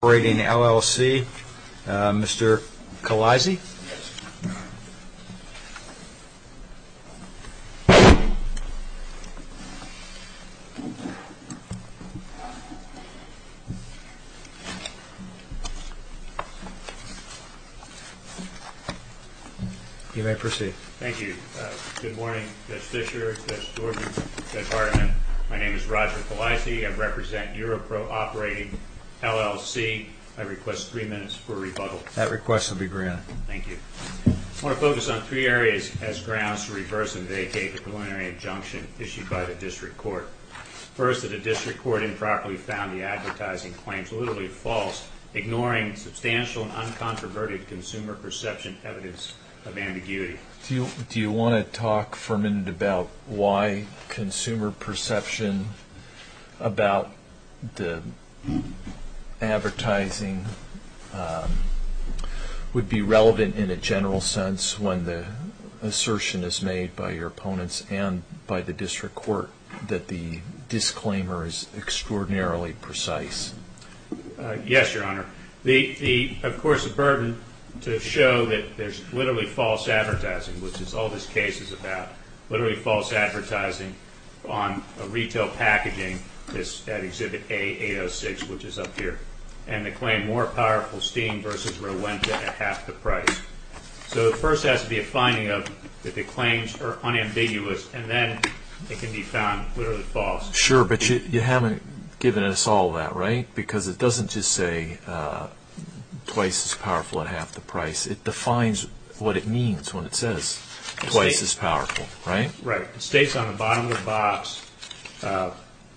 Operating LLC, Mr. Kalaizi. You may proceed. Thank you. Good morning, Mr. Fischer, Mr. Thornton, Mr. Hartman. My name is Roger Kalaizi. I represent Euro-Pro Operating LLC. I request three minutes for rebuttal. That request will be granted. Thank you. I want to focus on three areas as grounds to reverse and vacate the preliminary injunction issued by the district court. First, that the district court improperly found the advertising claims literally false, ignoring substantial and uncontroverted consumer perception evidence of ambiguity. Do you want to talk for a minute about why consumer perception about the advertising would be relevant in a general sense when the assertion is made by your opponents and by the district court that the disclaimer is extraordinarily precise? Yes, Your Honor. Of course, the burden to show that there's literally false advertising, which is all this case is about, literally false advertising on retail packaging at Exhibit A-806, which is up here, and to claim more powerful steam versus Rowenta at half the price. So the first has to be a finding of that the claims are unambiguous, and then it can be found literally false. Sure, but you haven't given us all that, right? Because it doesn't just say twice as powerful at half the price. It defines what it means when it says twice as powerful, right? Right. It states on the bottom of the box,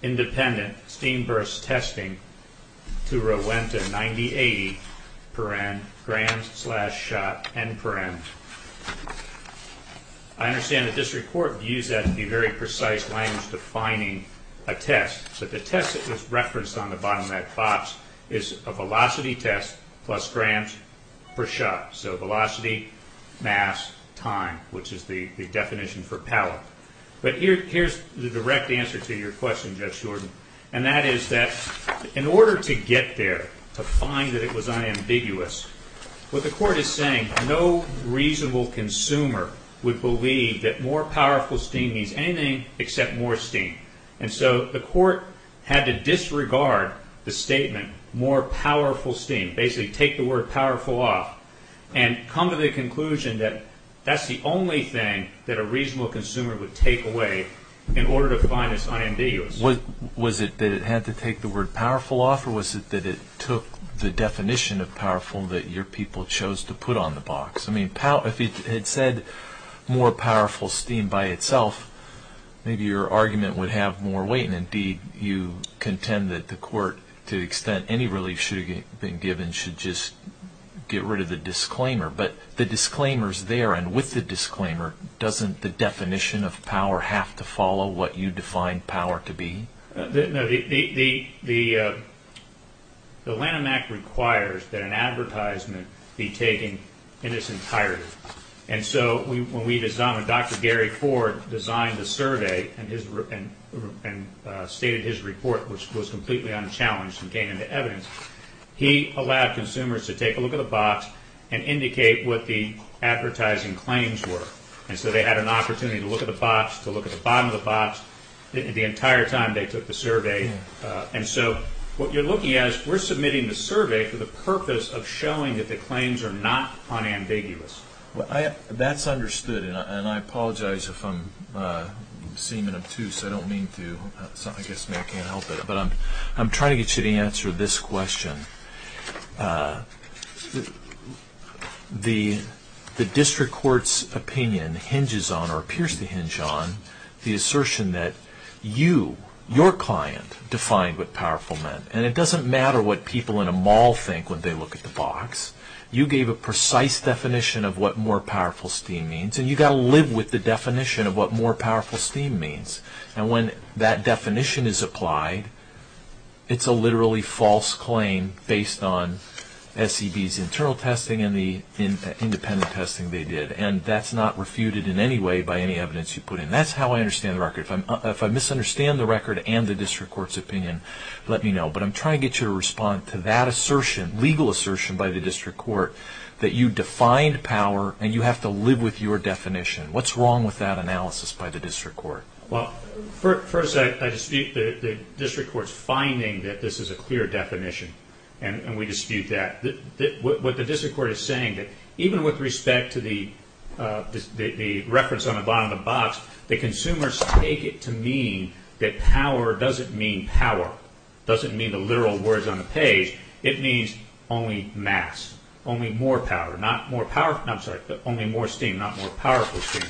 independent steam-versus-testing to Rowenta, 9080, paren, grams-slash-shot, n-paren. I understand that district court views that to be very precise language defining a test, but the test that was referenced on the bottom of that box is a velocity test plus grams per shot. So velocity, mass, time, which is the definition for power. But here's the direct answer to your question, Judge Jordan, and that is that in order to get there, to find that it was unambiguous, what the court is saying, no reasonable consumer would believe that more powerful steam means anything except more steam. And so the court had to disregard the statement more powerful steam, basically take the word powerful off, and come to the conclusion that that's the only thing that a reasonable consumer would take away in order to find this unambiguous. Was it that it had to take the word powerful off, or was it that it took the definition of powerful that your people chose to put on the box? I mean, if it had said more powerful steam by itself, maybe your argument would have more weight, and indeed you contend that the court, to the extent any relief should have been given, should just get rid of the disclaimer. But the disclaimer's there, and with the disclaimer, doesn't the definition of power have to follow what you define power to be? No, the Lanham Act requires that an advertisement be taken in its entirety. And so when Dr. Gary Ford designed the survey and stated his report, which was completely unchallenged and came into evidence, he allowed consumers to take a look at the box and indicate what the advertising claims were. And so they had an opportunity to look at the box, to look at the bottom of the box, the entire time they took the survey. And so what you're looking at is we're submitting the survey for the purpose of showing that the claims are not unambiguous. Well, that's understood, and I apologize if I'm seeming obtuse. I don't mean to. I guess maybe I can't help it. But I'm trying to get you to answer this question. The district court's opinion hinges on or appears to hinge on the assertion that you, your client, defined what powerful meant. And it doesn't matter what people in a mall think when they look at the box. You gave a precise definition of what more powerful steam means, and you've got to live with the definition of what more powerful steam means. And when that definition is applied, it's a literally false claim based on SEB's internal testing and the independent testing they did. And that's not refuted in any way by any evidence you put in. That's how I understand the record. If I misunderstand the record and the district court's opinion, let me know. But I'm trying to get you to respond to that assertion, legal assertion by the district court, that you defined power and you have to live with your definition. What's wrong with that analysis by the district court? Well, first I dispute the district court's finding that this is a clear definition, and we dispute that. What the district court is saying, even with respect to the reference on the bottom of the box, the consumers take it to mean that power doesn't mean power. It doesn't mean the literal words on the page. It means only mass, only more power, not more powerful. I'm sorry, only more steam, not more powerful steam.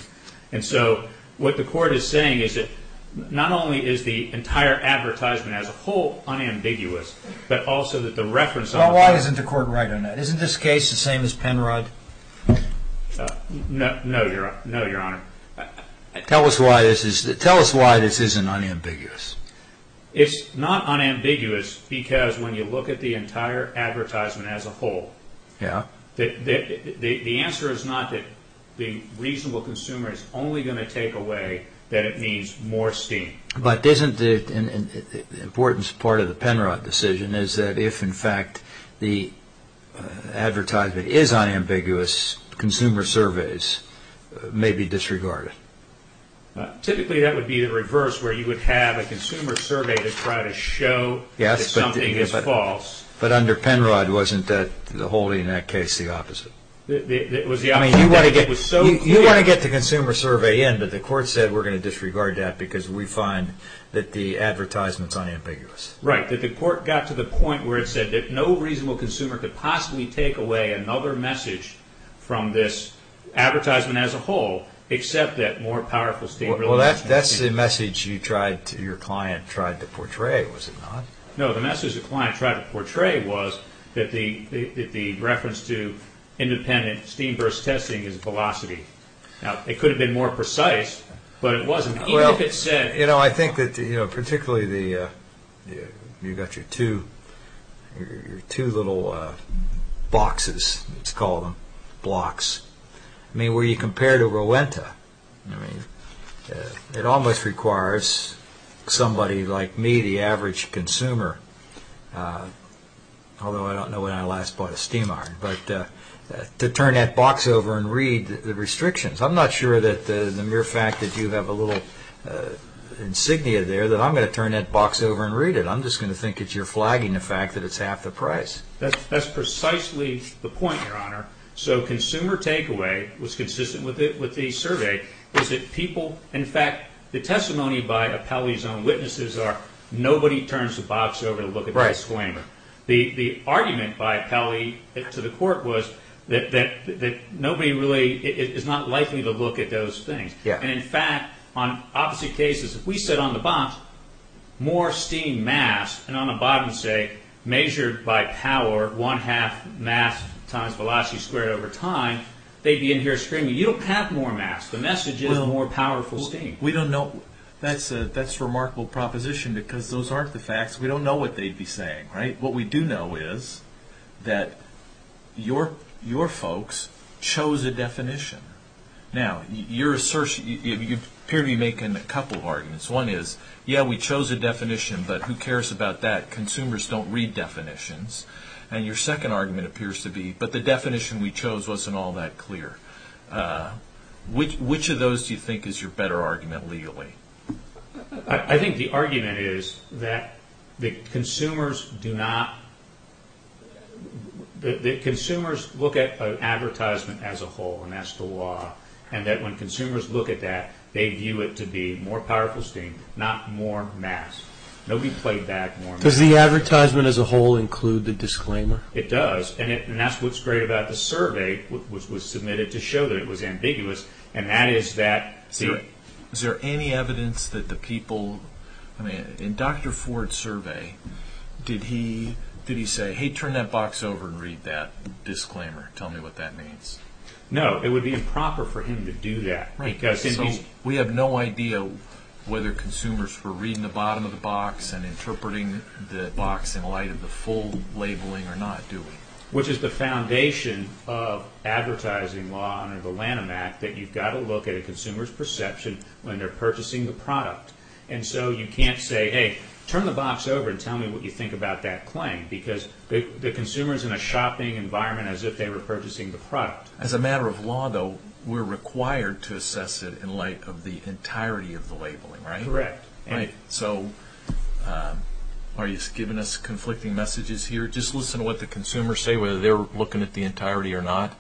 And so what the court is saying is that not only is the entire advertisement as a whole unambiguous, but also that the reference on the bottom of the box... Well, why isn't the court right on that? Isn't this case the same as Penrod? No, Your Honor. Tell us why this isn't unambiguous. It's not unambiguous because when you look at the entire advertisement as a whole, the answer is not that the reasonable consumer is only going to take away that it means more steam. But isn't the importance part of the Penrod decision is that if, in fact, the advertisement is unambiguous, consumer surveys may be disregarded? Typically, that would be the reverse, where you would have a consumer survey to try to show that something is false. Yes, but under Penrod, wasn't the holding in that case the opposite? I mean, you want to get the consumer survey in, but the court said we're going to disregard that because we find that the advertisement is unambiguous. Right, that the court got to the point where it said that no reasonable consumer could possibly take away another message from this advertisement as a whole, except that more powerful steam... Well, that's the message your client tried to portray, was it not? No, the message the client tried to portray was that the reference to independent steam burst testing is velocity. Now, it could have been more precise, but it wasn't, even if it said... You know, I think that particularly you've got your two little boxes, let's call them, blocks. I mean, where you compare to Rowenta, it almost requires somebody like me, the average consumer, although I don't know when I last bought a steam iron, but to turn that box over and read the restrictions. I'm not sure that the mere fact that you have a little insignia there, that I'm going to turn that box over and read it. I'm just going to think that you're flagging the fact that it's half the price. That's precisely the point, Your Honor. So consumer takeaway was consistent with the survey, is that people... In fact, the testimony by Apelli's own witnesses are nobody turns the box over to look at the disclaimer. The argument by Apelli to the court was that nobody really is not likely to look at those things. And in fact, on opposite cases, if we said on the box, more steam mass, and on the bottom say, measured by power, one-half mass times velocity squared over time, they'd be in here screaming, you don't have more mass, the message is more powerful steam. That's a remarkable proposition because those aren't the facts. We don't know what they'd be saying, right? What we do know is that your folks chose a definition. Now, you appear to be making a couple of arguments. One is, yeah, we chose a definition, but who cares about that? Consumers don't read definitions. And your second argument appears to be, but the definition we chose wasn't all that clear. Which of those do you think is your better argument legally? I think the argument is that consumers look at an advertisement as a whole, and that's the law, and that when consumers look at that, they view it to be more powerful steam, not more mass. Nobody played back more mass. Does the advertisement as a whole include the disclaimer? It does. And that's what's great about the survey, which was submitted to show that it was ambiguous, and that is that... Is there any evidence that the people... I mean, in Dr. Ford's survey, did he say, hey, turn that box over and read that disclaimer, tell me what that means? No, it would be improper for him to do that. Right, so we have no idea whether consumers were reading the bottom of the box and interpreting the box in light of the full labeling or not, do we? Which is the foundation of advertising law under the Lanham Act, that you've got to look at a consumer's perception when they're purchasing the product. And so you can't say, hey, turn the box over and tell me what you think about that claim, because the consumer is in a shopping environment as if they were purchasing the product. As a matter of law, though, we're required to assess it in light of the entirety of the labeling, right? Correct. Right, so are you giving us conflicting messages here? Just listen to what the consumers say, whether they're looking at the entirety or not.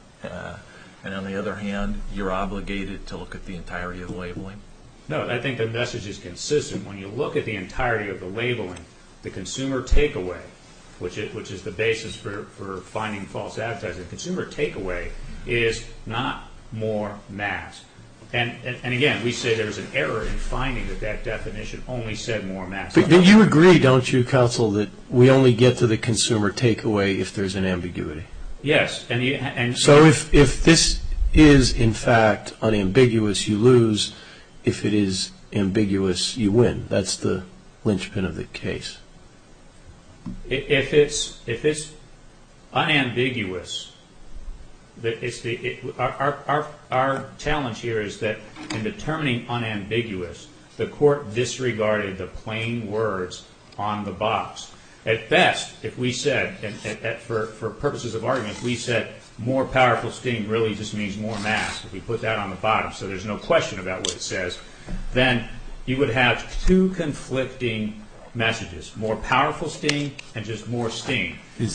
And on the other hand, you're obligated to look at the entirety of the labeling. No, I think the message is consistent. When you look at the entirety of the labeling, the consumer takeaway, which is the basis for finding false advertising, the consumer takeaway is not more mass. And again, we say there's an error in finding that that definition only said more mass. But you agree, don't you, Counsel, that we only get to the consumer takeaway if there's an ambiguity? Yes. So if this is, in fact, unambiguous, you lose. If it is ambiguous, you win. That's the linchpin of the case. If it's unambiguous, our challenge here is that in determining unambiguous, the court disregarded the plain words on the box. At best, if we said, for purposes of argument, if we said more powerful sting really just means more mass, if we put that on the bottom so there's no question about what it says, then you would have two conflicting messages, more powerful sting and just more sting. Is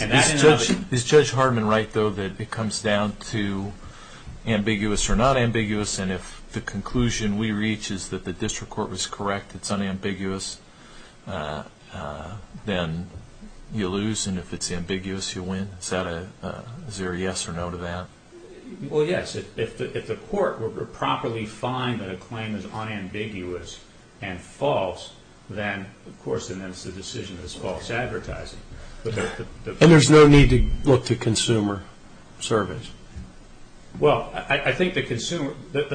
Judge Hardman right, though, that it comes down to ambiguous or not ambiguous? And if the conclusion we reach is that the district court was correct, it's unambiguous, then you lose. And if it's ambiguous, you win. Is there a yes or no to that? Well, yes. If the court were to properly find that a claim is unambiguous and false, then, of course, then it's a decision that's false advertising. And there's no need to look to consumer surveys? Well, I think the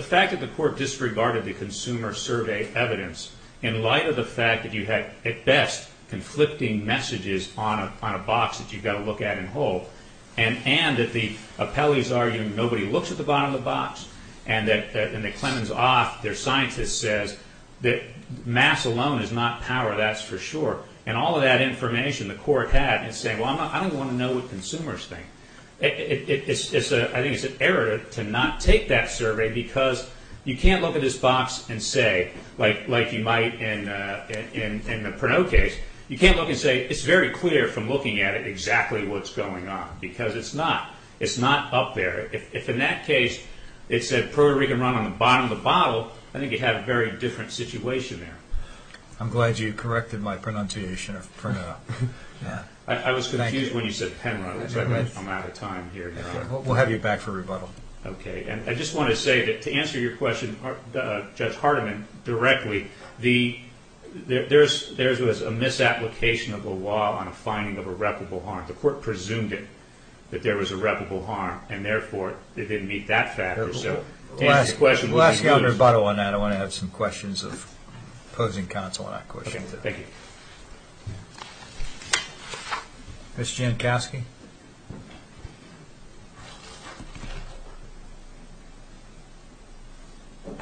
fact that the court disregarded the consumer survey evidence in light of the fact that you had, at best, conflicting messages on a box that you've got to look at and hold and that the appellees argue nobody looks at the bottom of the box and that Clemens Oth, their scientist, says that mass alone is not power, that's for sure, and all of that information the court had in saying, well, I don't want to know what consumers think. I think it's an error to not take that survey because you can't look at this box and say, like you might in the Pernod case, you can't look and say it's very clear from looking at it exactly what's going on because it's not. It's not up there. If in that case it said Puerto Rican run on the bottom of the bottle, I think you'd have a very different situation there. I'm glad you corrected my pronunciation of Pernod. I was confused when you said Penrod. I'm out of time here. We'll have you back for rebuttal. Okay. There was a misapplication of the law on a finding of irreparable harm. The court presumed it, that there was irreparable harm, and therefore it didn't meet that factor. We'll ask you on rebuttal on that. I want to have some questions of opposing counsel on that question. Okay, thank you. Ms. Jankowski. Good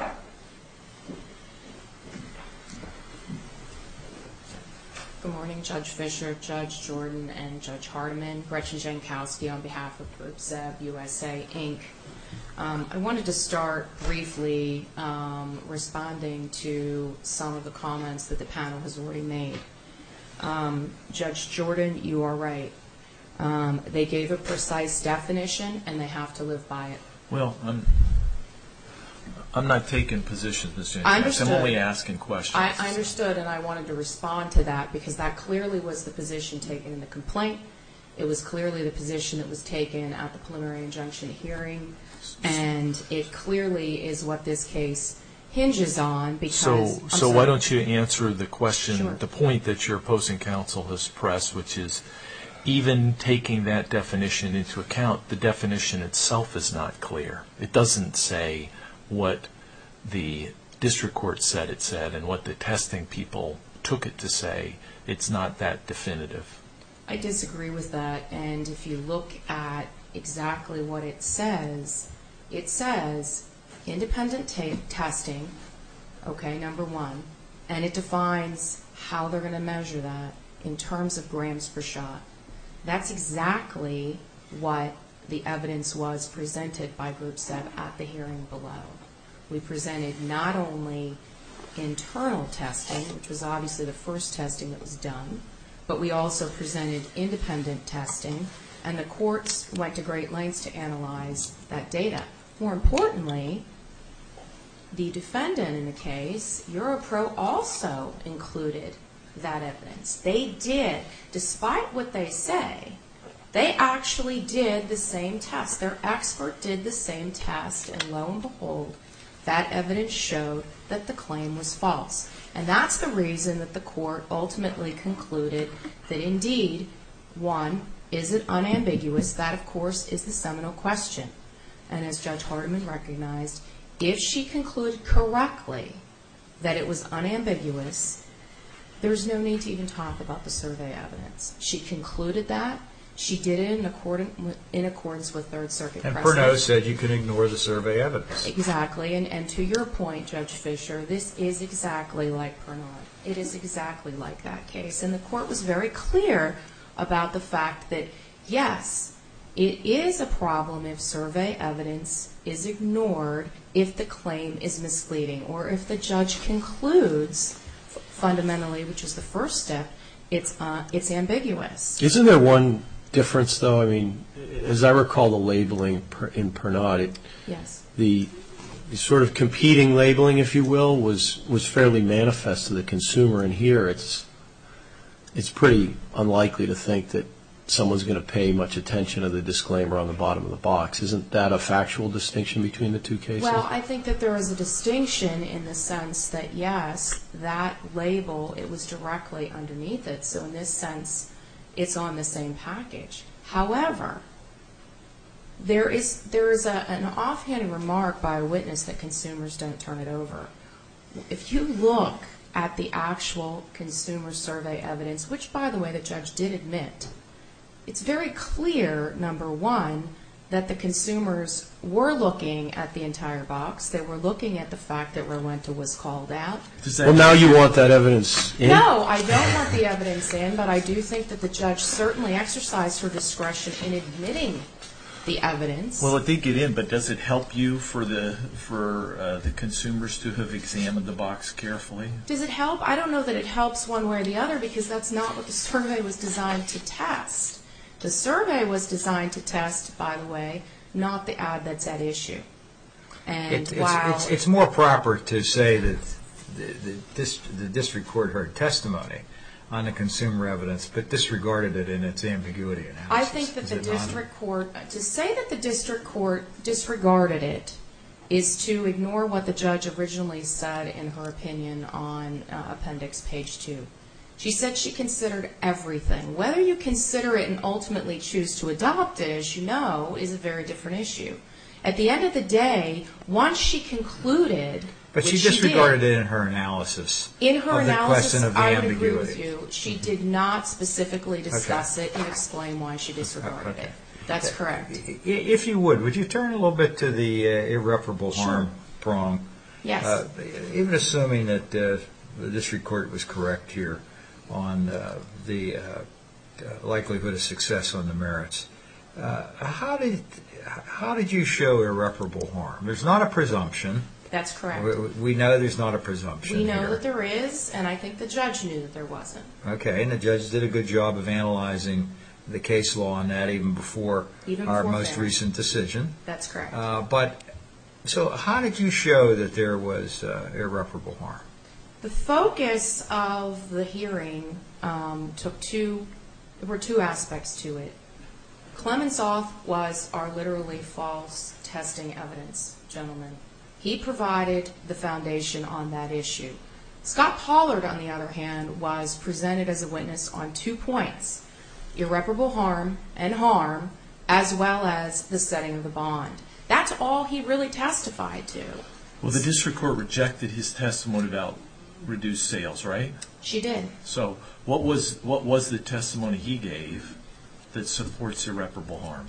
morning, Judge Fischer, Judge Jordan, and Judge Hardiman. Gretchen Jankowski on behalf of BPSB USA, Inc. I wanted to start briefly responding to some of the comments that the panel has already made. Judge Jordan, you are right. They gave a precise definition, and they have to live by it. Well, I'm not taking positions, Ms. Jankowski. I'm only asking questions. I understood, and I wanted to respond to that because that clearly was the position taken in the complaint. It was clearly the position that was taken at the preliminary injunction hearing, and it clearly is what this case hinges on. So why don't you answer the question, the point that your opposing counsel has pressed, which is even taking that definition into account, the definition itself is not clear. It doesn't say what the district court said it said and what the testing people took it to say. It's not that definitive. I disagree with that, and if you look at exactly what it says, it says independent testing, okay, number one, and it defines how they're going to measure that in terms of grams per shot. That's exactly what the evidence was presented by Group 7 at the hearing below. We presented not only internal testing, which was obviously the first testing that was done, but we also presented independent testing, and the courts went to great lengths to analyze that data. More importantly, the defendant in the case, EuroPro, also included that evidence. They did. Despite what they say, they actually did the same test. Their expert did the same test, and lo and behold, that evidence showed that the claim was false, and that's the reason that the court ultimately concluded that indeed, one, is it unambiguous? That, of course, is the seminal question, and as Judge Hardiman recognized, if she concluded correctly that it was unambiguous, there's no need to even talk about the survey evidence. She concluded that. She did it in accordance with Third Circuit precedent. And Pernaut said you can ignore the survey evidence. Exactly, and to your point, Judge Fischer, this is exactly like Pernaut. It is exactly like that case, and the court was very clear about the fact that, yes, it is a problem if survey evidence is ignored if the claim is misleading or if the judge concludes fundamentally, which is the first step, it's ambiguous. Isn't there one difference, though? I mean, as I recall the labeling in Pernaut, the sort of competing labeling, if you will, was fairly manifest to the consumer, and here it's pretty unlikely to think that someone's going to pay much attention to the disclaimer on the bottom of the box. Isn't that a factual distinction between the two cases? Well, I think that there is a distinction in the sense that, yes, that label, it was directly underneath it, so in this sense it's on the same package. However, there is an offhand remark by a witness that consumers don't turn it over. If you look at the actual consumer survey evidence, which, by the way, the judge did admit, it's very clear, number one, that the consumers were looking at the entire box. They were looking at the fact that Rowenta was called out. Well, now you want that evidence in. No, I don't want the evidence in, but I do think that the judge certainly exercised her discretion in admitting the evidence. Well, I think it did, but does it help you for the consumers to have examined the box carefully? Does it help? I don't know that it helps one way or the other because that's not what the survey was designed to test. The survey was designed to test, by the way, not the ad that's at issue. It's more proper to say that the district court heard testimony on the consumer evidence but disregarded it in its ambiguity analysis. I think that to say that the district court disregarded it is to ignore what the judge originally said in her opinion on appendix page 2. She said she considered everything. Whether you consider it and ultimately choose to adopt it, as you know, is a very different issue. At the end of the day, once she concluded what she did... But she disregarded it in her analysis. In her analysis, I would agree with you. She did not specifically discuss it and explain why she disregarded it. That's correct. If you would, would you turn a little bit to the irreparable harm prong? Yes. Even assuming that the district court was correct here on the likelihood of success on the merits, how did you show irreparable harm? There's not a presumption. That's correct. We know there's not a presumption here. We know that there is, and I think the judge knew that there wasn't. The judge did a good job of analyzing the case law on that even before our most recent decision. That's correct. How did you show that there was irreparable harm? The focus of the hearing took two... There were two aspects to it. Clemensoth was our literally false testing evidence gentleman. He provided the foundation on that issue. Scott Pollard, on the other hand, was presented as a witness on two points, irreparable harm and harm, as well as the setting of the bond. That's all he really testified to. Well, the district court rejected his testimony about reduced sales, right? She did. So what was the testimony he gave that supports irreparable harm?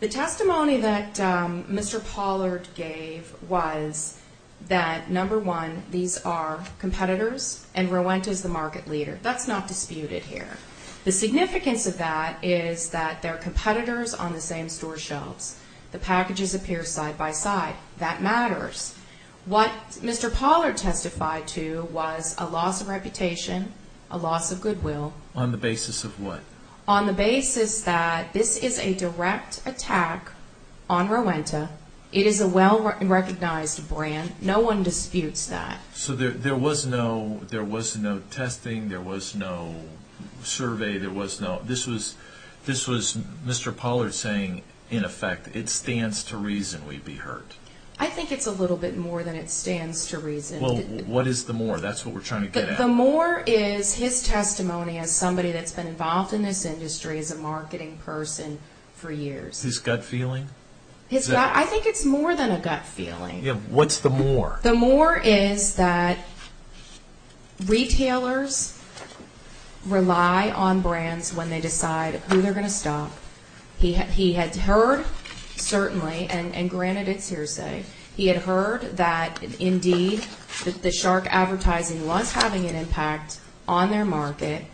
The testimony that Mr. Pollard gave was that, number one, these are competitors, and Rowenta is the market leader. That's not disputed here. The significance of that is that they're competitors on the same store shelves. The packages appear side by side. That matters. What Mr. Pollard testified to was a loss of reputation, a loss of goodwill. On the basis of what? On the basis that this is a direct attack on Rowenta. It is a well-recognized brand. No one disputes that. So there was no testing. There was no survey. This was Mr. Pollard saying, in effect, it stands to reason we'd be hurt. I think it's a little bit more than it stands to reason. Well, what is the more? That's what we're trying to get at. The more is his testimony as somebody that's been involved in this industry as a marketing person for years. His gut feeling? I think it's more than a gut feeling. What's the more? The more is that retailers rely on brands when they decide who they're going to stop. He had heard, certainly, and granted it's hearsay, he had heard that, indeed, the shark advertising was having an impact on their market.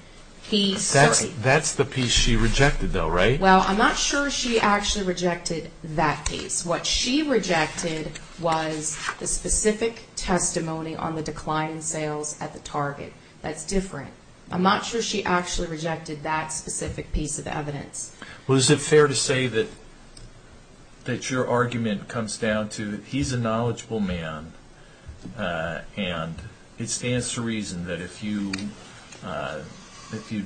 That's the piece she rejected, though, right? Well, I'm not sure she actually rejected that piece. What she rejected was the specific testimony on the decline in sales at the Target. That's different. I'm not sure she actually rejected that specific piece of evidence. Well, is it fair to say that your argument comes down to he's a knowledgeable man and it stands to reason that if you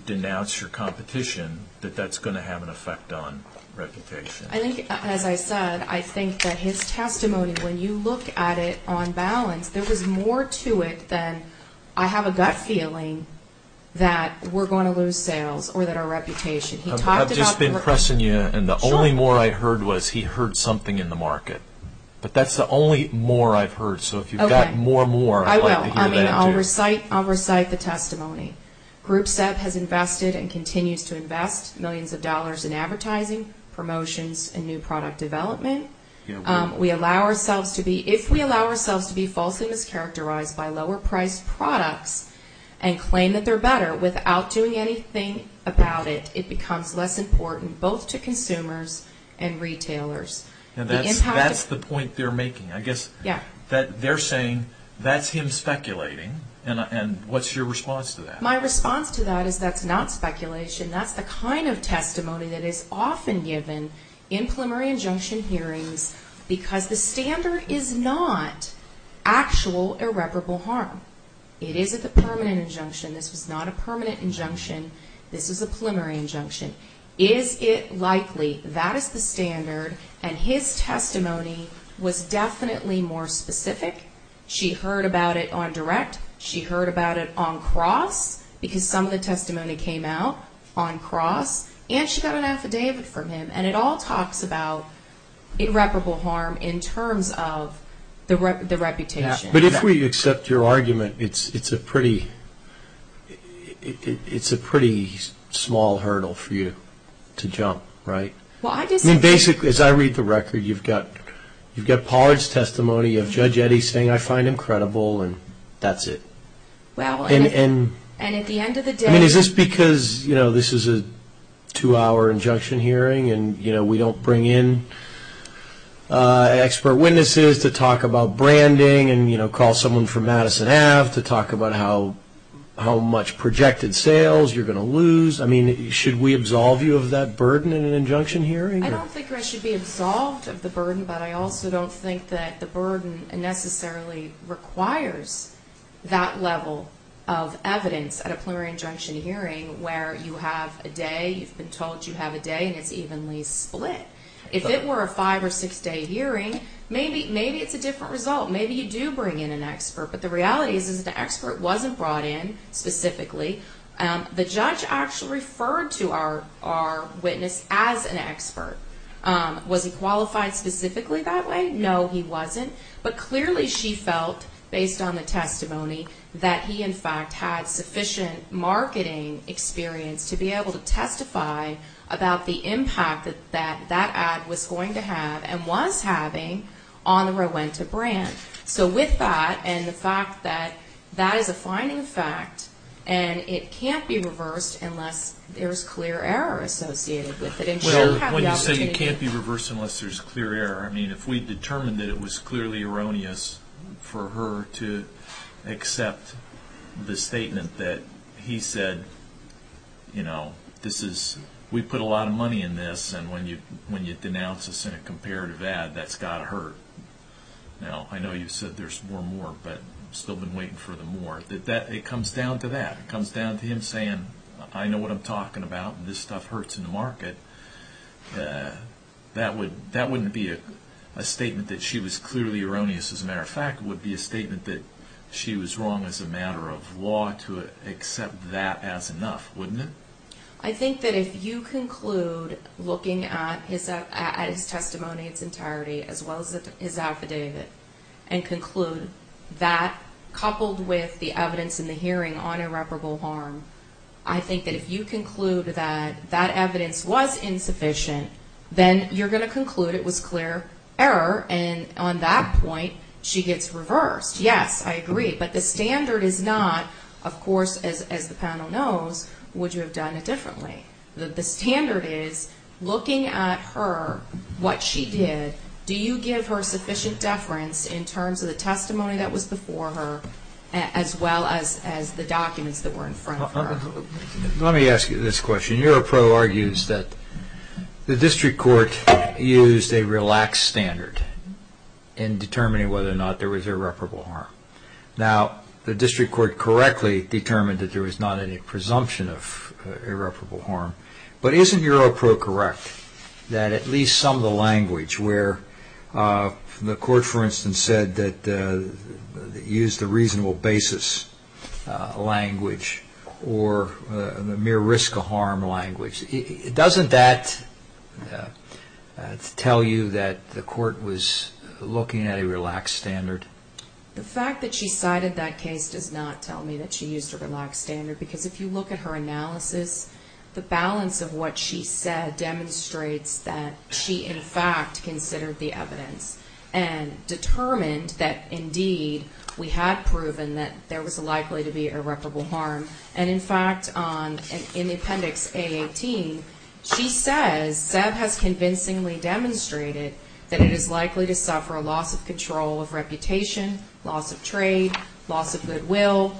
denounce your competition, that that's going to have an effect on reputation? As I said, I think that his testimony, when you look at it on balance, there was more to it than I have a gut feeling that we're going to lose sales or that our reputation. I've just been pressing you, and the only more I heard was he heard something in the market. But that's the only more I've heard. So if you've got more, more, I'd like to hear that, too. I'll recite the testimony. Groupset has invested and continues to invest millions of dollars in advertising, promotions, and new product development. If we allow ourselves to be falsely mischaracterized by lower-priced products and claim that they're better without doing anything about it, it becomes less important both to consumers and retailers. That's the point they're making. I guess they're saying that's him speculating, and what's your response to that? My response to that is that's not speculation. That's the kind of testimony that is often given in preliminary injunction hearings because the standard is not actual irreparable harm. It is a permanent injunction. This was not a permanent injunction. This was a preliminary injunction. Is it likely? That is the standard, and his testimony was definitely more specific. She heard about it on direct. She heard about it on cross because some of the testimony came out on cross, and she got an affidavit from him, and it all talks about irreparable harm in terms of the reputation. But if we accept your argument, it's a pretty small hurdle for you to jump, right? I mean, basically, as I read the record, you've got Pollard's testimony of Judge Eddy saying, I find him credible, and that's it. And at the end of the day – I mean, is this because this is a two-hour injunction hearing, and we don't bring in expert witnesses to talk about branding and call someone from Madison Ave. to talk about how much projected sales you're going to lose? I mean, should we absolve you of that burden in an injunction hearing? I don't think I should be absolved of the burden, but I also don't think that the burden necessarily requires that level of evidence at a plenary injunction hearing where you have a day, you've been told you have a day, and it's evenly split. If it were a five- or six-day hearing, maybe it's a different result. Maybe you do bring in an expert, but the reality is that the expert wasn't brought in specifically. The judge actually referred to our witness as an expert. Was he qualified specifically that way? No, he wasn't. But clearly she felt, based on the testimony, that he, in fact, had sufficient marketing experience to be able to testify about the impact that that ad was going to have and was having on the Rowenta brand. So with that and the fact that that is a finding of fact and it can't be reversed unless there's clear error associated with it. Well, when you say it can't be reversed unless there's clear error, I mean, if we determined that it was clearly erroneous for her to accept the statement that he said, you know, we put a lot of money in this, and when you denounce us in a comparative ad, that's got to hurt. Now, I know you've said there's more and more, but still been waiting for the more. It comes down to that. It comes down to him saying, I know what I'm talking about, and this stuff hurts in the market. That wouldn't be a statement that she was clearly erroneous, as a matter of fact. It would be a statement that she was wrong as a matter of law to accept that as enough, wouldn't it? as well as his affidavit and conclude that coupled with the evidence in the hearing on irreparable harm. I think that if you conclude that that evidence was insufficient, then you're going to conclude it was clear error, and on that point, she gets reversed. Yes, I agree, but the standard is not, of course, as the panel knows, would you have done it differently? The standard is, looking at her, what she did, do you give her sufficient deference in terms of the testimony that was before her, as well as the documents that were in front of her? Let me ask you this question. Your pro argues that the district court used a relaxed standard in determining whether or not there was irreparable harm. Now, the district court correctly determined that there was not any presumption of irreparable harm, but isn't your pro correct that at least some of the language where the court, for instance, said that it used a reasonable basis language or the mere risk of harm language, doesn't that tell you that the court was looking at a relaxed standard? The fact that she cited that case does not tell me that she used a relaxed standard, because if you look at her analysis, the balance of what she said demonstrates that she, in fact, considered the evidence and determined that, indeed, we had proven that there was likely to be irreparable harm. And, in fact, in the appendix A18, she says, and Seb has convincingly demonstrated that it is likely to suffer a loss of control of reputation, loss of trade, loss of goodwill,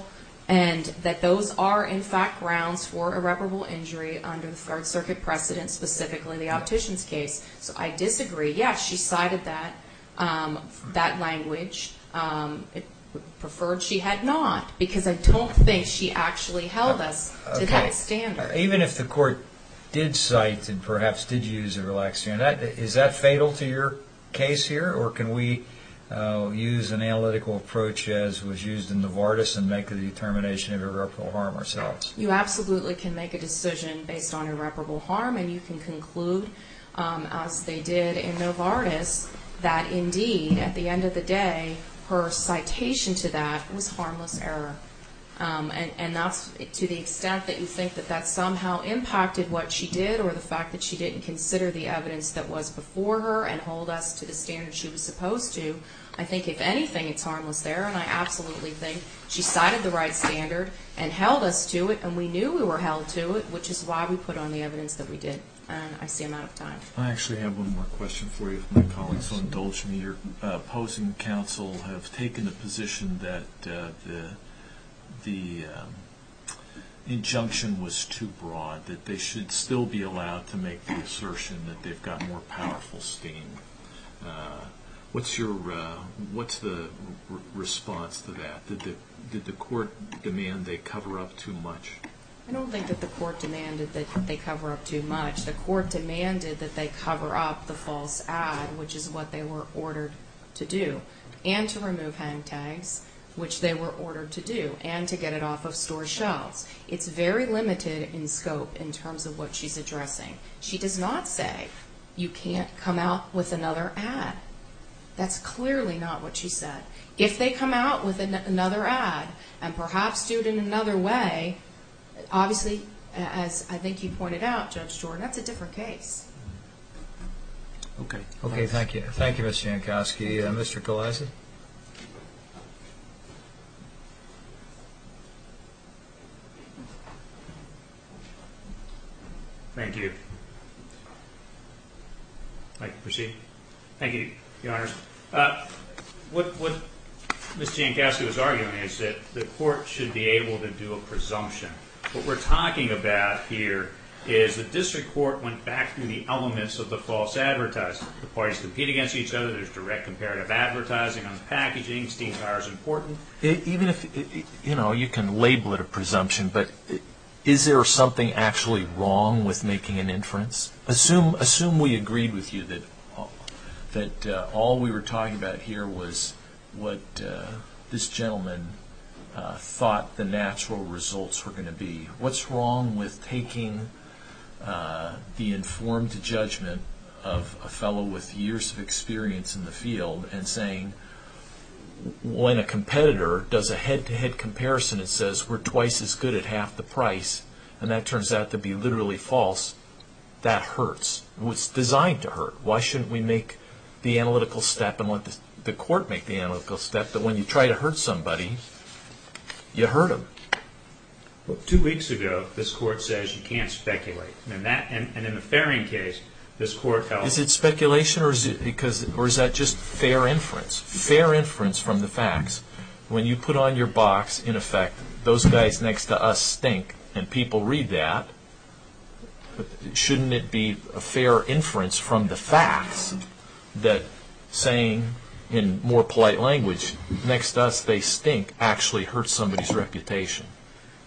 and that those are, in fact, grounds for irreparable injury under the Third Circuit precedent, specifically the optician's case. So I disagree. Yes, she cited that language. Preferred she had not, because I don't think she actually held us to that standard. Even if the court did cite and perhaps did use a relaxed standard, is that fatal to your case here, or can we use an analytical approach as was used in Novartis and make the determination of irreparable harm ourselves? You absolutely can make a decision based on irreparable harm, and you can conclude, as they did in Novartis, that, indeed, at the end of the day, her citation to that was harmless error. And to the extent that you think that that somehow impacted what she did or the fact that she didn't consider the evidence that was before her and hold us to the standard she was supposed to, I think, if anything, it's harmless error. And I absolutely think she cited the right standard and held us to it, and we knew we were held to it, which is why we put on the evidence that we did. I see I'm out of time. I actually have one more question for you, if my colleagues will indulge me. The court and your opposing counsel have taken the position that the injunction was too broad, that they should still be allowed to make the assertion that they've got more powerful steam. What's the response to that? Did the court demand they cover up too much? I don't think that the court demanded that they cover up too much. The court demanded that they cover up the false ad, which is what they were ordered to do, and to remove hang tags, which they were ordered to do, and to get it off of store shelves. It's very limited in scope in terms of what she's addressing. She does not say you can't come out with another ad. That's clearly not what she said. If they come out with another ad and perhaps do it in another way, obviously, as I think you pointed out, Judge Jordan, that's a different case. Okay. Okay, thank you. Thank you, Ms. Jankowski. Mr. Gillespie? Thank you. I can proceed? Thank you, Your Honors. What Ms. Jankowski was arguing is that the court should be able to do a presumption. What we're talking about here is the district court went back through the elements of the false advertising. The parties compete against each other. There's direct comparative advertising on the packaging. Steam tires are important. Even if you can label it a presumption, but is there something actually wrong with making an inference? Assume we agreed with you that all we were talking about here was what this gentleman thought the natural results were going to be. What's wrong with taking the informed judgment of a fellow with years of experience in the field and saying when a competitor does a head-to-head comparison, it says we're twice as good at half the price, and that turns out to be literally false. That hurts. It's designed to hurt. Why shouldn't we make the analytical step and let the court make the analytical step that when you try to hurt somebody, you hurt them? Two weeks ago, this court says you can't speculate. And in the Farring case, this court held that. Is it speculation or is that just fair inference? Fair inference from the facts. When you put on your box, in effect, those guys next to us stink, and people read that, shouldn't it be a fair inference from the facts that saying, in more polite language, next to us they stink actually hurts somebody's reputation?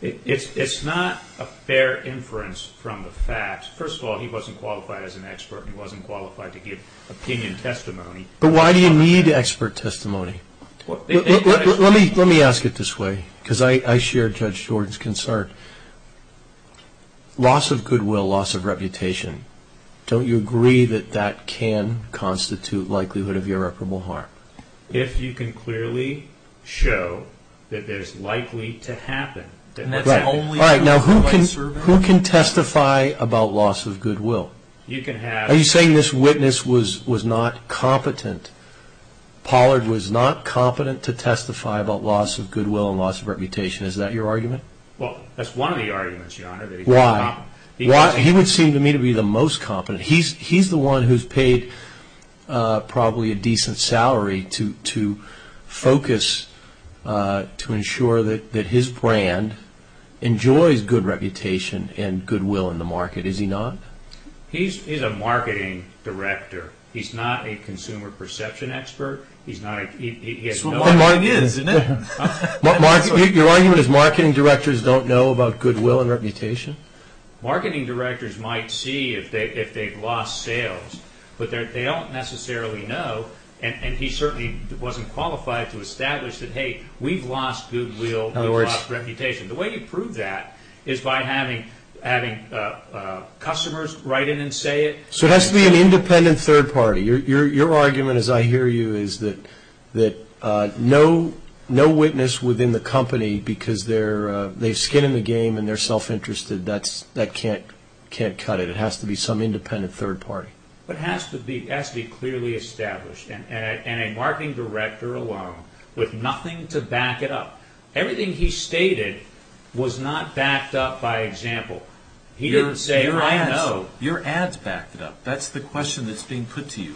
It's not a fair inference from the facts. First of all, he wasn't qualified as an expert. He wasn't qualified to give opinion testimony. But why do you need expert testimony? Let me ask it this way because I share Judge Jordan's concern. Loss of goodwill, loss of reputation, don't you agree that that can constitute likelihood of irreparable harm? If you can clearly show that there's likely to happen. All right. Now, who can testify about loss of goodwill? Are you saying this witness was not competent? Pollard was not competent to testify about loss of goodwill and loss of reputation. Is that your argument? Well, that's one of the arguments, Your Honor. Why? He would seem to me to be the most competent. He's the one who's paid probably a decent salary to focus, to ensure that his brand enjoys good reputation and goodwill in the market. Is he not? He's a marketing director. He's not a consumer perception expert. He has no idea. That's what marketing is, isn't it? Your argument is marketing directors don't know about goodwill and reputation? Marketing directors might see if they've lost sales. But they don't necessarily know. And he certainly wasn't qualified to establish that, hey, we've lost goodwill, we've lost reputation. The way you prove that is by having customers write in and say it. So it has to be an independent third party. Your argument, as I hear you, is that no witness within the company, because they've skin in the game and they're self-interested, that can't cut it. It has to be some independent third party. But it has to be clearly established. And a marketing director alone with nothing to back it up. Everything he stated was not backed up by example. He didn't say, I know. Your ads backed it up. That's the question that's being put to you.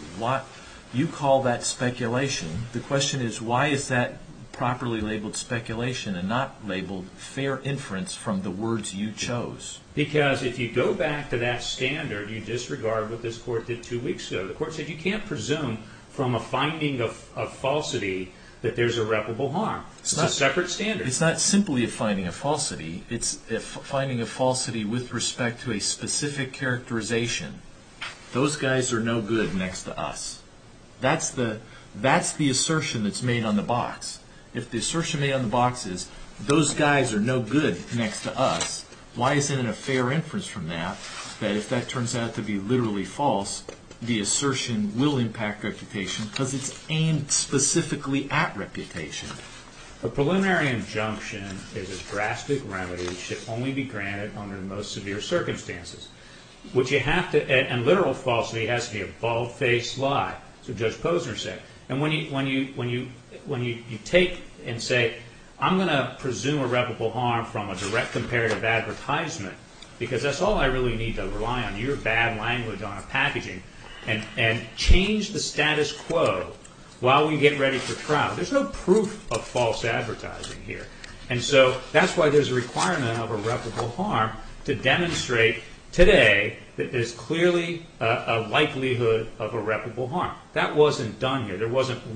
You call that speculation. The question is, why is that properly labeled speculation and not labeled fair inference from the words you chose? Because if you go back to that standard, you disregard what this court did two weeks ago. The court said you can't presume from a finding of falsity that there's irreparable harm. It's a separate standard. It's not simply a finding of falsity. It's a finding of falsity with respect to a specific characterization. Those guys are no good next to us. That's the assertion that's made on the box. If the assertion made on the box is those guys are no good next to us, why isn't it a fair inference from that that if that turns out to be literally false, the assertion will impact reputation because it's aimed specifically at reputation? A preliminary injunction is a drastic remedy. It should only be granted under the most severe circumstances. And literal falsity has to be a bald-faced lie, as Judge Posner said. And when you take and say I'm going to presume irreparable harm from a direct comparative advertisement because that's all I really need to rely on your bad language on a packaging and change the status quo while we get ready for trial, there's no proof of false advertising here. And so that's why there's a requirement of irreparable harm to demonstrate today that there's clearly a likelihood of irreparable harm. That wasn't done here. There's only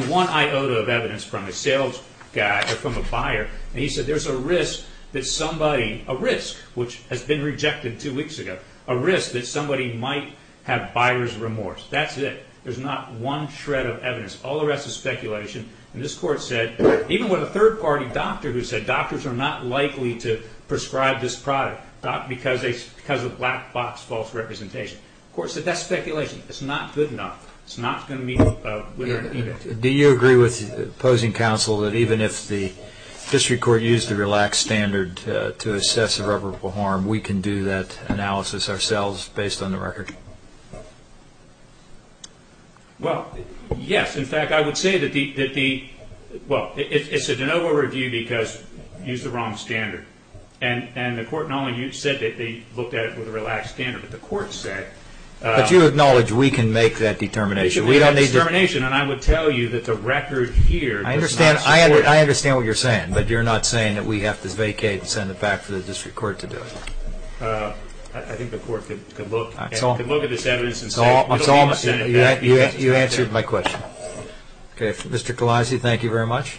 one iota of evidence from a sales guy or from a buyer. And he said there's a risk that somebody, a risk which has been rejected two weeks ago, a risk that somebody might have buyer's remorse. That's it. There's not one shred of evidence. All the rest is speculation. And this court said even with a third-party doctor who said doctors are not likely to prescribe this product because of black box false representation. The court said that's speculation. It's not good enough. It's not going to meet a winner-in-effect. Do you agree with opposing counsel that even if the district court used the relaxed standard to assess irreparable harm, we can do that analysis ourselves based on the record? Well, yes. In fact, I would say that the, well, it's a de novo review because you used the wrong standard. And the court not only said that they looked at it with a relaxed standard, but the court said they should make that determination. And I would tell you that the record here was not secure. I understand what you're saying, but you're not saying that we have to vacate and send it back for the district court to do it. I think the court could look at this evidence and say, we don't want you to send it back. You answered my question. Okay. Mr. Galassi, thank you very much.